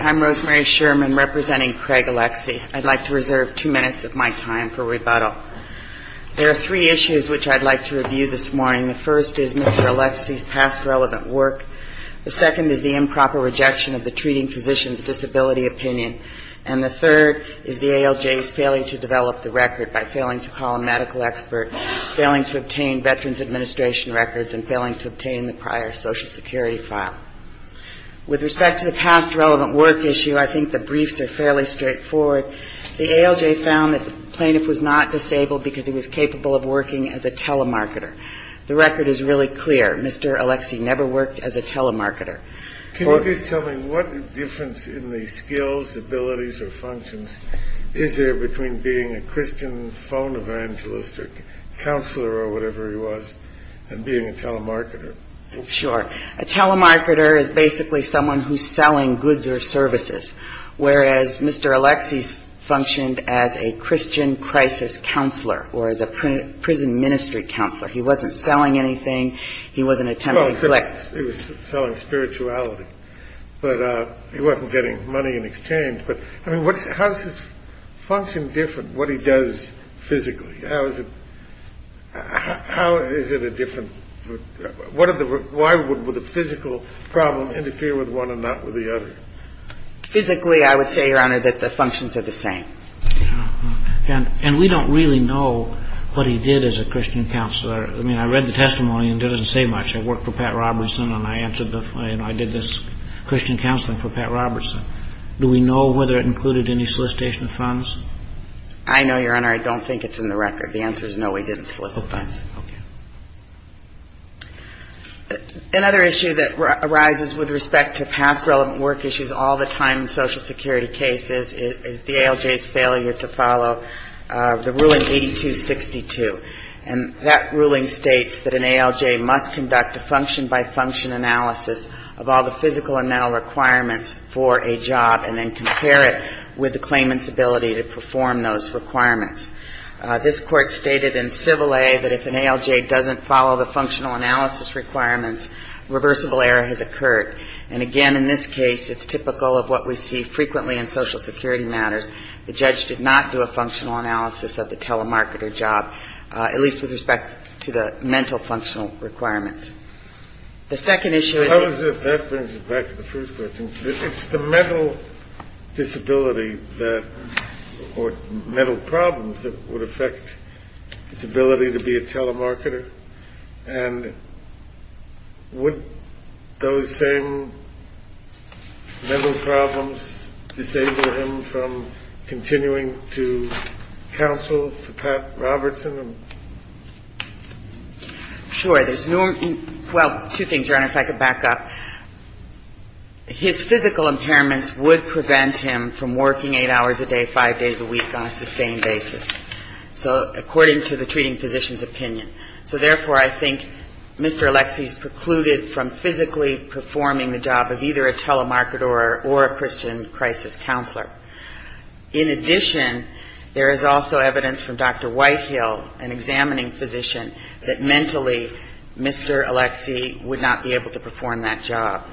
I'm Rosemary Sherman representing Craig Alexie. I'd like to reserve two minutes of my time for rebuttal. There are three issues which I'd like to review this morning. The first is Mr. Alexie's past relevant work. The second is the improper rejection of the treating physician's disability opinion. And the third is the ALJ's failure to develop the record by failing to call a medical expert, failing to obtain Veterans Administration records, and failing to obtain the prior Social Security file. With respect to the past relevant work issue, I think the briefs are fairly straightforward. The ALJ found that the plaintiff was not disabled because he was capable of working as a telemarketer. The record is really clear. Mr. Alexie never worked as a telemarketer. Can you please tell me what difference in the skills, abilities, or functions is there between being a Christian phone evangelist or counselor or whatever he was and being a telemarketer? Sure. A telemarketer is basically someone who's selling goods or services. Whereas Mr. Alexie functioned as a Christian crisis counselor or as a prison ministry counselor. He wasn't selling anything. He wasn't attempting to collect. He was selling spirituality. But he wasn't getting money in exchange. But I mean, how is his function different, what he does physically? How is it a different – what are the – why would the physical problem interfere with one and not with the other? Physically, I would say, Your Honor, that the functions are the same. And we don't really know what he did as a Christian counselor. I mean, I read the testimony and it doesn't say much. I worked for Pat Robertson and I answered the – you know, I did this Christian counseling for Pat Robertson. Do we know whether it included any solicitation of funds? I know, Your Honor. I don't think it's in the record. The answer is no, we didn't solicit funds. Okay. Okay. Another issue that arises with respect to past relevant work issues all the time in Social Security cases is the ALJ's failure to follow the ruling 8262. And that ruling states that an ALJ must conduct a function-by-function analysis of all the physical and mental requirements for a job and then compare it with the claimant's ability to perform those requirements. This Court stated in Civil A that if an ALJ doesn't follow the functional analysis requirements, reversible error has occurred. And again, in this case, it's typical of what we see frequently in Social Security matters. The judge did not do a functional analysis of the telemarketer job, at least with respect to the mental functional requirements. The second issue is – Sure. There's – well, two things, Your Honor, if I could back up. His physical impairments would prevent him from working 8 hours a day, 5 days a week on a sustained basis, so – according to the treating physician's opinion. So therefore, I think Mr. Alexie's precluded from physically performing the job of either a telemarketer or a Christian crisis counselor. In addition, there is also evidence from Dr. Whitehill, an examining physician, that mentally Mr. Alexie would not be able to perform that job.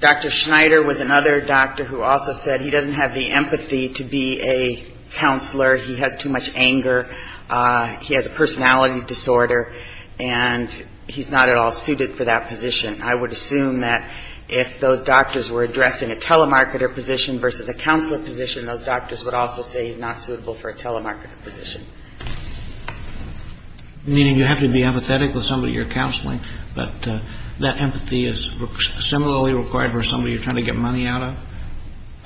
Dr. Schneider was another doctor who also said he doesn't have the empathy to be a counselor. He has too much anger. He has a personality disorder. And he's not at all suited for that position. I would assume that if those doctors were addressing a telemarketer position versus a counselor position, those doctors would also say he's not suitable for a telemarketer position. Meaning you have to be empathetic with somebody you're counseling, but that empathy is similarly required for somebody you're trying to get money out of?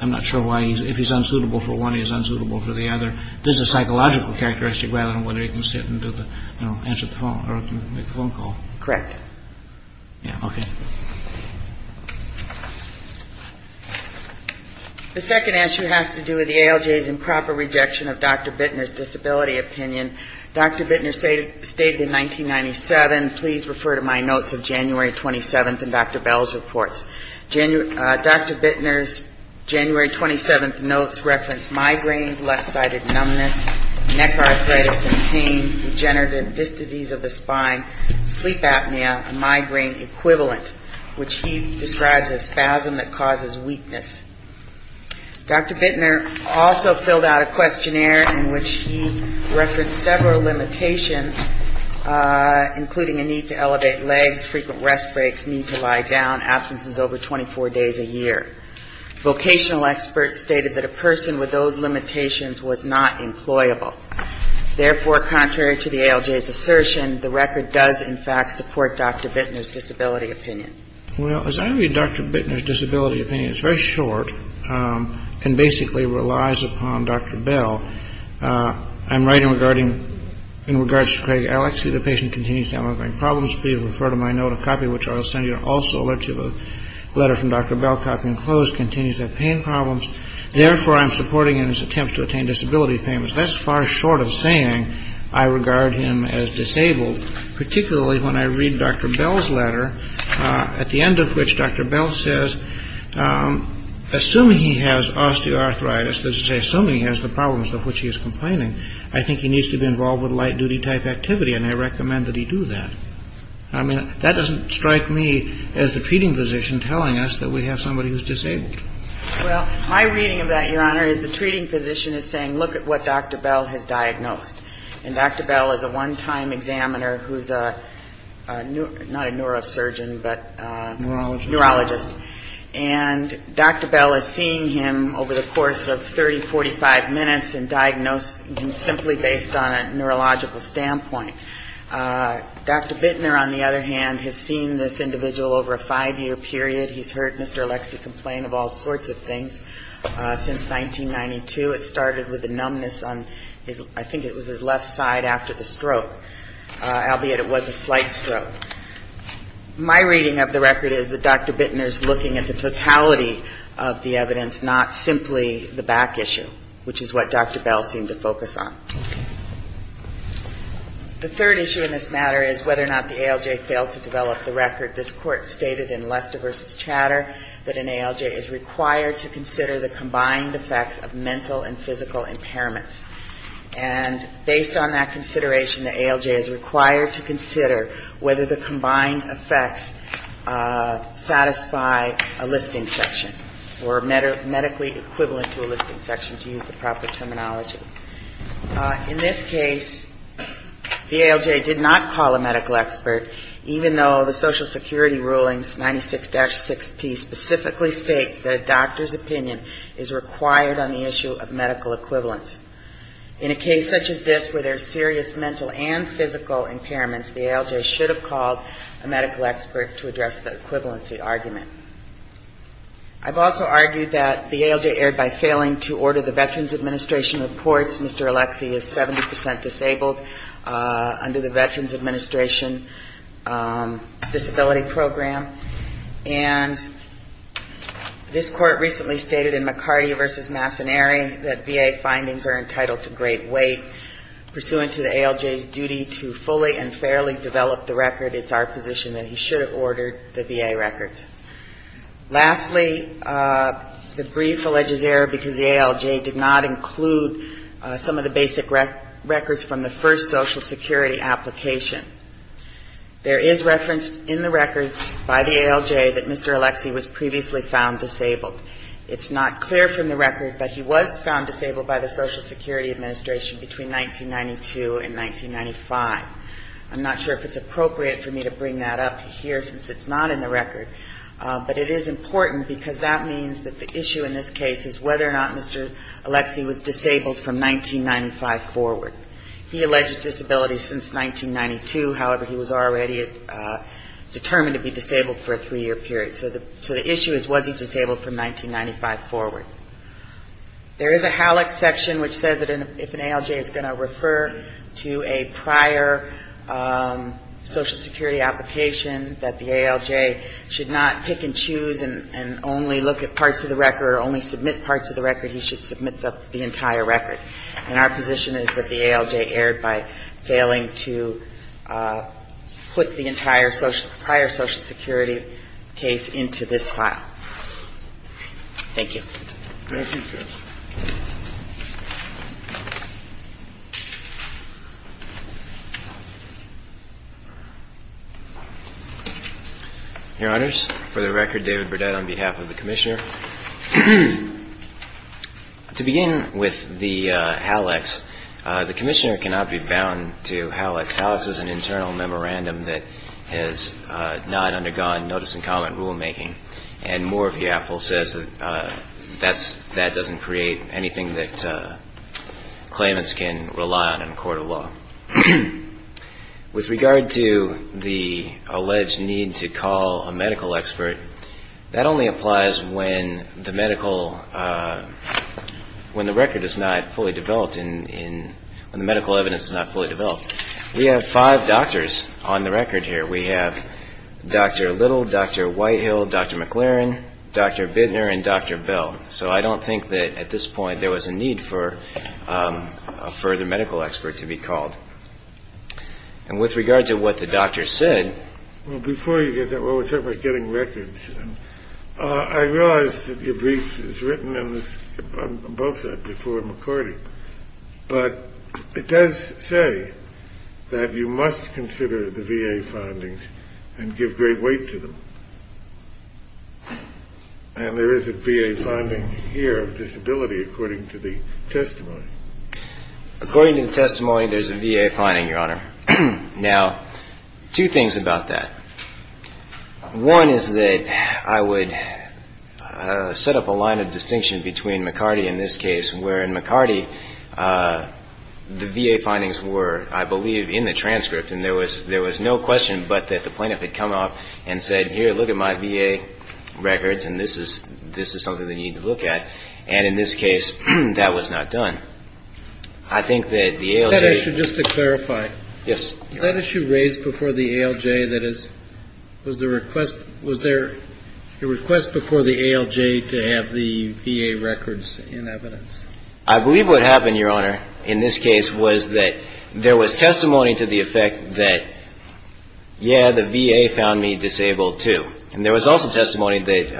I'm not sure why he's – if he's unsuitable for one, he's unsuitable for the other. This is a psychological characteristic rather than whether he can sit and do the – answer the phone or make the phone call. Correct. Yeah, okay. The second answer has to do with the ALJ's improper rejection of Dr. Bittner's disability opinion. Dr. Bittner stated in 1997 – please refer to my notes of January 27th in Dr. Bell's reports – Dr. Bittner's January 27th notes referenced migraines, left-sided numbness, neck arthritis and pain, degenerative disc disease of the spine, sleep apnea, a migraine equivalent, which he describes as spasm that causes weakness. Dr. Bittner also filled out a questionnaire in which he referenced several limitations, including a need to elevate legs, frequent rest breaks, need to lie down, absences over 24 days a year. Vocational experts stated that a person with those limitations was not employable. Therefore, contrary to the ALJ's assertion, the record does in fact support Dr. Bittner's disability opinion. Well, as I read Dr. Bittner's disability opinion, it's very short and basically relies upon Dr. Bell. I'm writing regarding – in regards to Craig Alexey, the patient continues to have migraine problems. Please refer to my note of copy, which I will send you. Also a letter from Dr. Bell, copy enclosed, continues to have pain problems. Therefore, I'm supporting in his attempts to attain disability payments. That's far short of saying I regard him as disabled, particularly when I read Dr. Bell's letter, at the end of which Dr. Bell says, assuming he has osteoarthritis, assuming he has the problems of which he is complaining, I think he needs to be involved with light-duty type activity and I recommend that he do that. I mean, that doesn't strike me as the treating physician telling us that we have somebody who's disabled. Well, my reading of that, Your Honor, is the treating physician is saying, look at what Dr. Bell has diagnosed. And Dr. Bell is a one-time examiner who's a – not a neurosurgeon, but a neurologist. And Dr. Bell is seeing him over the course of 30, 45 minutes and diagnosing him simply based on a neurological standpoint. Dr. Bittner, on the other hand, has seen this individual over a five-year period. He's heard Mr. Alexey complain of all sorts of things. Since 1992, it started with a numbness on his – I think it was his left side after the stroke, albeit it was a slight stroke. My reading of the record is that Dr. Bittner's looking at the totality of the evidence, not simply the back issue, which is what Dr. Bell seemed to focus on. The third issue in this matter is whether or not the ALJ failed to develop the record. This Court stated in Lester v. Chatter that an ALJ is required to consider the combined effects of mental and physical impairments. And based on that consideration, the ALJ is required to consider whether the combined effects satisfy a listing section or medically equivalent to a listing section, to use the proper terminology. In this case, the ALJ did not call a medical expert, even though the Social Security Rulings 96-6P specifically states that a doctor's opinion is required on the issue of medical equivalence. In a case such as this, where there are serious mental and physical impairments, the ALJ should have called a medical expert to address the equivalency argument. I've also argued that the ALJ erred by failing to order the Veterans Administration reports. Mr. Alexie is 70 percent disabled under the Veterans Administration Disability Program. And this Court recently stated in McCarty v. Massaneri that VA findings are entitled to great weight. Pursuant to the ALJ's duty to fully and fairly develop the record, it's our position that he should have ordered the VA records. Lastly, the brief alleges error because the ALJ did not include some of the basic records from the first Social Security application. There is reference in the records by the ALJ that Mr. Alexie was previously found disabled. It's not clear from the record that he was found disabled by the Social Security Administration between 1992 and 1995. I'm not sure if it's appropriate for me to bring that up here since it's not in the record. But it is important because that means that the issue in this case is whether or not Mr. Alexie was disabled from 1995 forward. He alleged disability since 1992. However, he was already determined to be disabled for a three-year period. So the issue is, was he disabled from 1995 forward? There is a HALAC section which says that if an ALJ is going to refer to a prior Social Security application, that the ALJ should not pick and choose and only look at parts of the record or only submit parts of the record. He should submit the entire record. And our position is that the ALJ erred by failing to put the entire prior Social Security case into this file. Thank you. Thank you, Judge. Your Honors, for the record, David Burdett on behalf of the Commissioner. To begin with the HALACs, the Commissioner cannot be bound to HALACs. HALACs is an internal memorandum of notice and comment rulemaking. And Moore v. Apple says that that doesn't create anything that claimants can rely on in a court of law. With regard to the alleged need to call a medical expert, that only applies when the record is not fully developed, when the medical evidence is not fully developed. We have five doctors on the record here. We have Dr. Little, Dr. Whitehill, Dr. McLaren, Dr. Bittner, and Dr. Bell. So I don't think that at this point there was a need for a further medical expert to be called. And with regard to what the doctor said... Well, before you get that, we're talking about getting records. I realize that your brief is written on both sides before McCordy. But it does say that you must call a medical expert and must consider the VA findings and give great weight to them. And there is a VA finding here of disability, according to the testimony. According to the testimony, there's a VA finding, Your Honor. Now, two things about that. One is that I would set up a line of distinction between McCordy in this case, where in McCordy the VA findings were, I believe, in the transcript. And there was no question but that the plaintiff had come up and said, here, look at my VA records, and this is something that you need to look at. And in this case, that was not done. I think that the ALJ... That issue, just to clarify. Yes. Was that issue raised before the ALJ? That is, was there a request before the ALJ to have the VA records in evidence? I believe what happened, Your Honor, in this case was that there was testimony to the effect that, yeah, the VA found me disabled, too. And there was also testimony that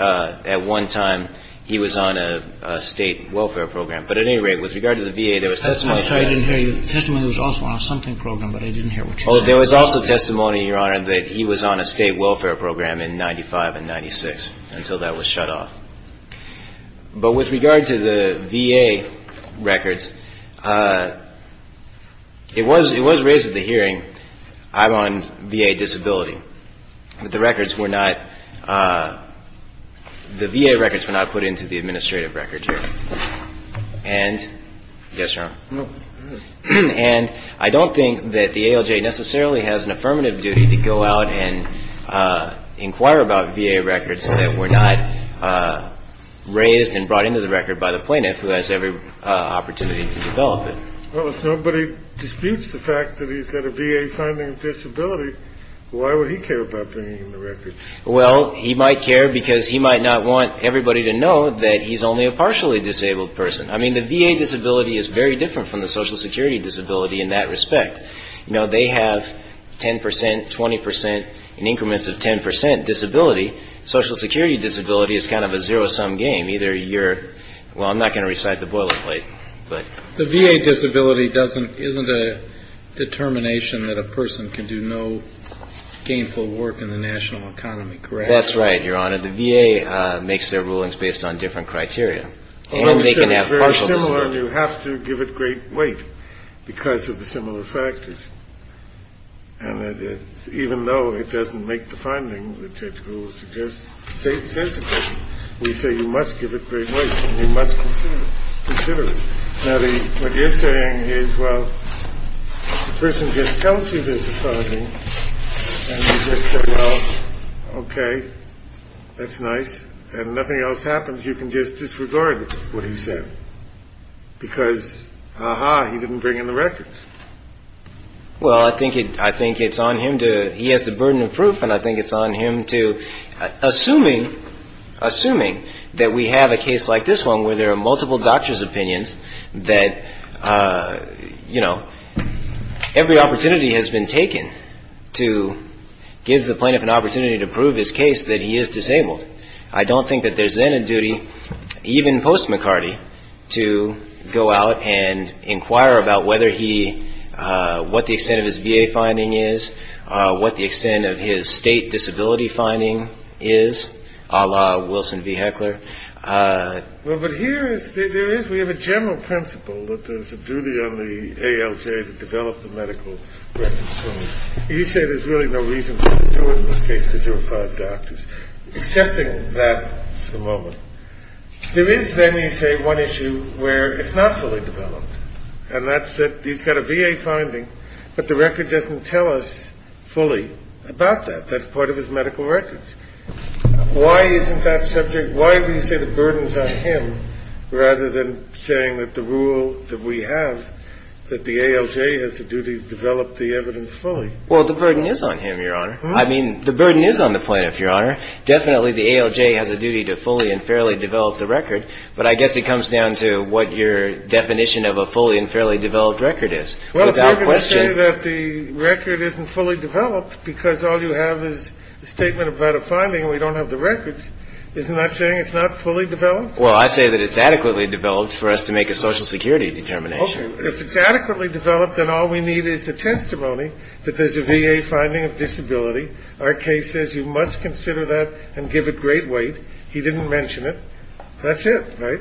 at one time he was on a state welfare program. But at any rate, with regard to the VA, there was testimony... I'm sorry, I didn't hear you. The testimony was also on a something program, but I didn't hear what you said. Oh, there was also testimony, Your Honor, that he was on a state welfare program in 1995 and 1996, until that was shut off. But with regard to the VA records, it was raised at the hearing, I'm on VA disability. But the records were not... The VA records were not put into the administrative record here. And... Yes, Your Honor. And I don't think that the ALJ necessarily has an affirmative duty to go out and inquire about VA records that were not raised and brought into the record by the plaintiff who has every opportunity to develop it. Well, if nobody disputes the fact that he's got a VA finding of disability, why would he care about bringing in the records? Well, he might care because he might not want everybody to know that he's only a partially disabled person. I mean, the VA disability is very different from the Social Security disability in that respect. You know, they have 10%, 20%, in increments of 10% disability. Social Security disability is kind of a zero-sum game. Either you're... Well, I'm not going to recite the boilerplate, but... The VA disability doesn't... Isn't a determination that a person can do no gainful work in the national economy, correct? That's right, Your Honor. The VA makes their rulings based on different criteria. And they can have partial disability. Well, it's very similar, and you have to give it great weight because of the similar factors. And even though it doesn't make the finding, which it will suggest, sensible, we say you must give it great weight, and you must consider it. Now, what you're saying is, well, the person just tells you there's a finding, and you just say, well, okay, that's nice, and if nothing else happens, you can just disregard what he said, because, aha, he didn't bring in the records. Well, I think it's on him to... He has the burden of proof, and I think it's on him to... Assuming that we have a case like this one, where there are multiple doctors' opinions, that, you know, every opportunity has been taken to give the plaintiff an opportunity to prove his case that he is disabled. I don't think that there's then a duty, even post-McCarty, to go out and inquire about whether he... what the extent of his VA finding is, what the extent of his state disability finding is, a la Wilson v. Heckler. Well, but here, there is... We have a general principle that there's a duty on the ALJ to develop the evidence fully. There is, then, you say, one issue where it's not fully developed, and that's that he's got a VA finding, but the record doesn't tell us fully about that. That's part of his medical records. Why isn't that subject... Why do you say the burden's on him, rather than saying that the rule that we have, that the ALJ has a duty to develop the evidence fully? Well, the burden is on him, Your Honor. I mean, the burden is on the plaintiff, Your Honor. Definitely, the ALJ has a duty to fully and fairly develop the record, but I guess it comes down to what your definition of a fully and fairly developed record is. Without question... Well, if you're going to say that the record isn't fully developed because all you have is a statement about a finding and we don't have the records, isn't that saying it's not fully developed? Well, I say that it's adequately developed for us to make a Social Security determination. If it's adequately developed, then all we need is a testimony that there's a VA finding of disability. Our case says you must consider that and give it great weight. He didn't mention it. That's it, right?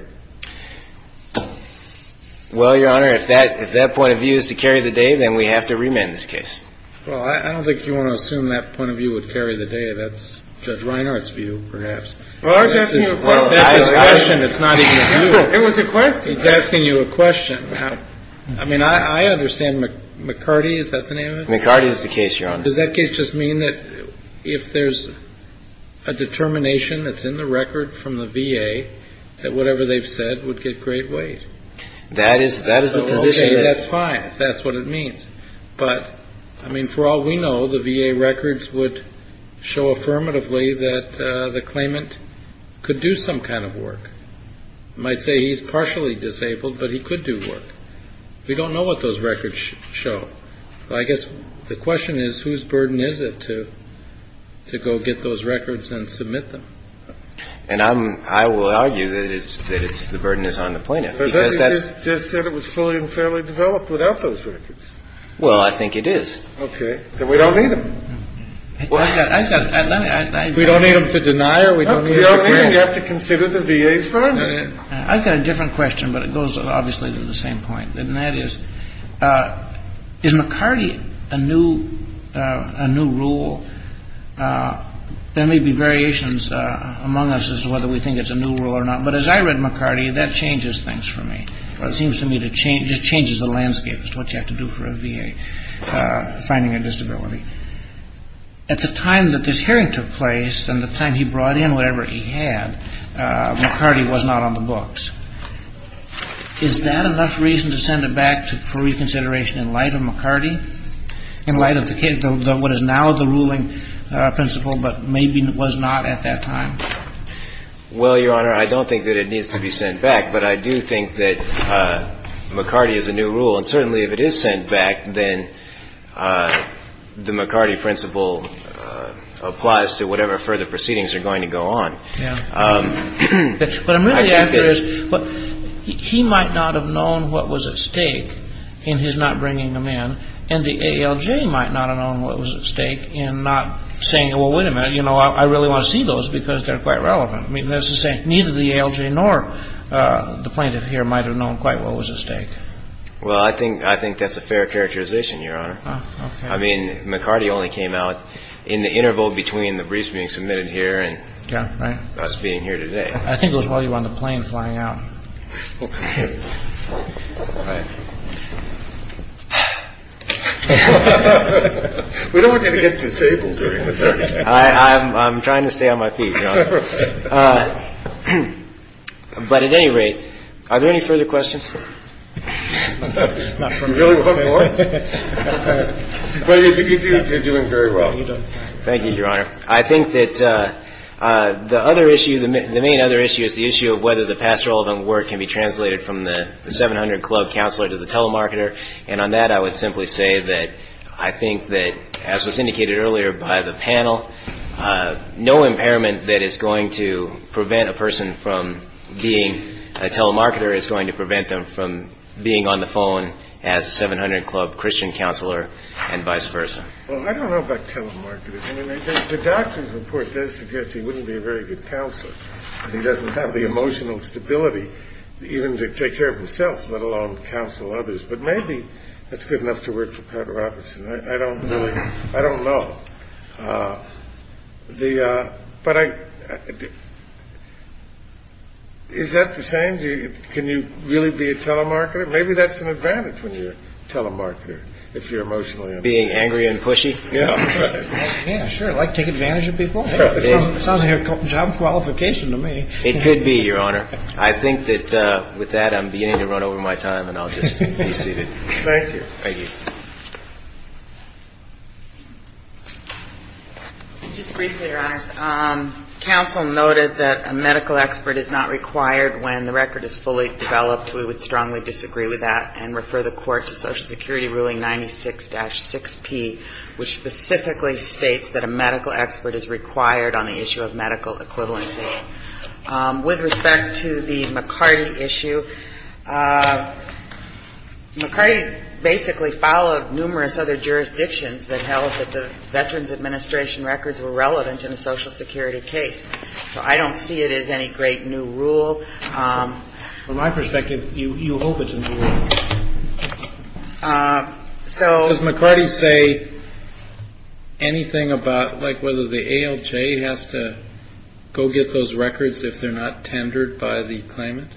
Well, Your Honor, if that point of view is to carry the day, then we have to remand this case. Well, I don't think you want to assume that point of view would carry the day. That's Judge Reinhardt's view, perhaps. Well, I was asking you a question. It's not even a question. It was a question. He's asking you a question. I mean, I understand McCarty, is that the name of it? McCarty is the case, Your Honor. Does that case just mean that if there's a determination that's in the record from the VA that whatever they've said would get great weight? That is the position. Okay, that's fine if that's what it means. But, I mean, for all we know, the VA records would show affirmatively that the claimant could do some kind of work. You might say he's partially disabled, but he could do work. We don't know what those records show. I guess the question is, whose burden is it to go get those records and submit them? And I will argue that the burden is on the plaintiff. But they just said it was fully and fairly developed without those records. Well, I think it is. Okay. Then we don't need them. We don't need them to deny or we don't need them to agree. We don't even have to consider the VA's firm. I've got a different question, but it goes obviously to the same point. And that is, is McCarty a new rule? There may be variations among us as to whether we think it's a new rule or not. But as I read McCarty, that changes things for me. It seems to me it changes the landscape as to what you have to do for a VA finding a disability. At the time that this hearing took place and the time he brought in whatever he had, McCarty was not on the books. Is that enough reason to send it back for reconsideration in light of McCarty, in light of what is now the ruling principle but maybe was not at that time? Well, Your Honor, I don't think that it needs to be sent back. But I do think that McCarty is a new rule. And certainly if it is sent back, then the McCarty principle applies to whatever further proceedings are going to go on. But what I'm really after is he might not have known what was at stake in his not bringing them in, and the ALJ might not have known what was at stake in not saying, well, wait a minute, I really want to see those because they're quite relevant. That's to say neither the ALJ nor the plaintiff here might have known quite what was at stake. Well, I think that's a fair characterization, Your Honor. I mean, McCarty only came out in the interval between the briefs being submitted here and I that's a pretty good question as far as the presentation is concerned. Yeah, that's being here today. I think it is while you are on the plane flying out and we don't want to get disabled... I'm trying to stay on my feet. But at any rate, are there any further questions? You're doing very well. Thank you, Your Honor. I think that the other issue, the main other issue is the issue of whether the pastoral work can be translated from the 700 club counselor to the telemarketer. And on that, I would simply say that I think that, as was indicated earlier by the panel, no impairment that is going to prevent a person from being a telemarketer is going to prevent them from being on the phone as a 700 club Christian counselor and vice versa. Well, I don't know about telemarketers. I mean, the doctor's report does suggest he wouldn't be a very good counselor. He doesn't have the emotional stability even to take care of himself, let alone counsel others. But maybe that's good enough to work for Pat Robertson. I don't know. I don't know. But I. Is that the same? Can you really be a telemarketer? Maybe that's an advantage when you're a telemarketer, if you're emotionally being angry and pushy. Yeah, sure. I like to take advantage of people. It sounds like a job qualification to me. It could be, Your Honor. I think that with that, I'm beginning to run over my time and I'll just be seated. Thank you. Thank you. Just briefly, Your Honors. Counsel noted that a medical expert is not required when the record is fully developed. We would strongly disagree with that and refer the court to Social Security Ruling 96-6P, which specifically states that a medical expert is required on the issue of medical equivalency. With respect to the McCarty issue, McCarty basically followed numerous other jurisdictions that held that the Veterans Administration records were relevant in a Social Security case. So I don't see it as any great new rule. From my perspective, you hope it's a new rule. Does McCarty say anything about like whether the ALJ has to go get those records if they're not tendered by the claimant?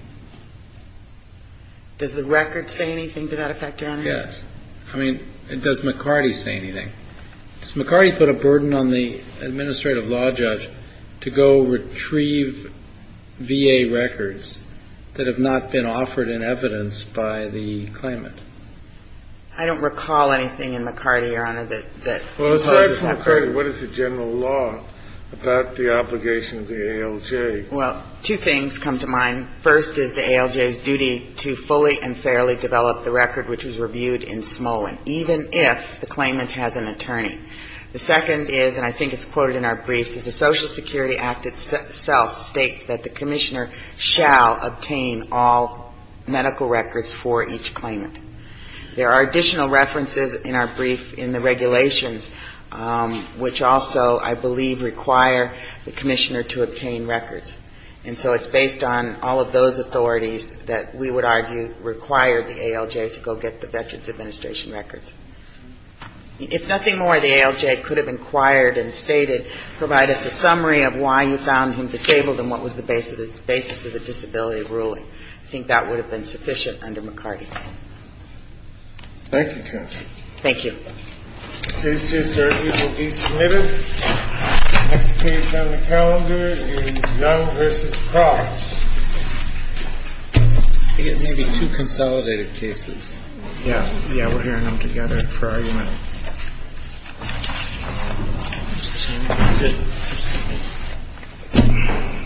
Does the record say anything to that effect, Your Honor? Yes. I mean, does McCarty say anything? Does McCarty put a burden on the administrative law judge to go retrieve VA records that have not been offered in evidence by the claimant? I don't recall anything in McCarty, Your Honor, that imposes that burden. Well, aside from McCarty, what is the general law about the obligation of the ALJ? Well, two things come to mind. First is the ALJ's duty to fully and fairly develop the record which was reviewed in Smolin, even if the claimant has an attorney. The second is, and I think it's quoted in our briefs, is the Social Security Act itself states that the commissioner shall obtain all medical records for each claimant. There are additional references in our brief in the regulations which also, I believe, require the commissioner to obtain records. And so it's based on all of those authorities that we would argue require the ALJ to go get the Veterans Administration records. If nothing more, the ALJ could have inquired and stated, provide us a summary of why you found him disabled and what was the basis of the disability ruling. I think that would have been sufficient under McCarty. Thank you, counsel. Thank you. Case 230 will be submitted. Next case on the calendar is Young v. Cross. I think it may be two consolidated cases. Yeah. Yeah, we're hearing them together for argument. That's it.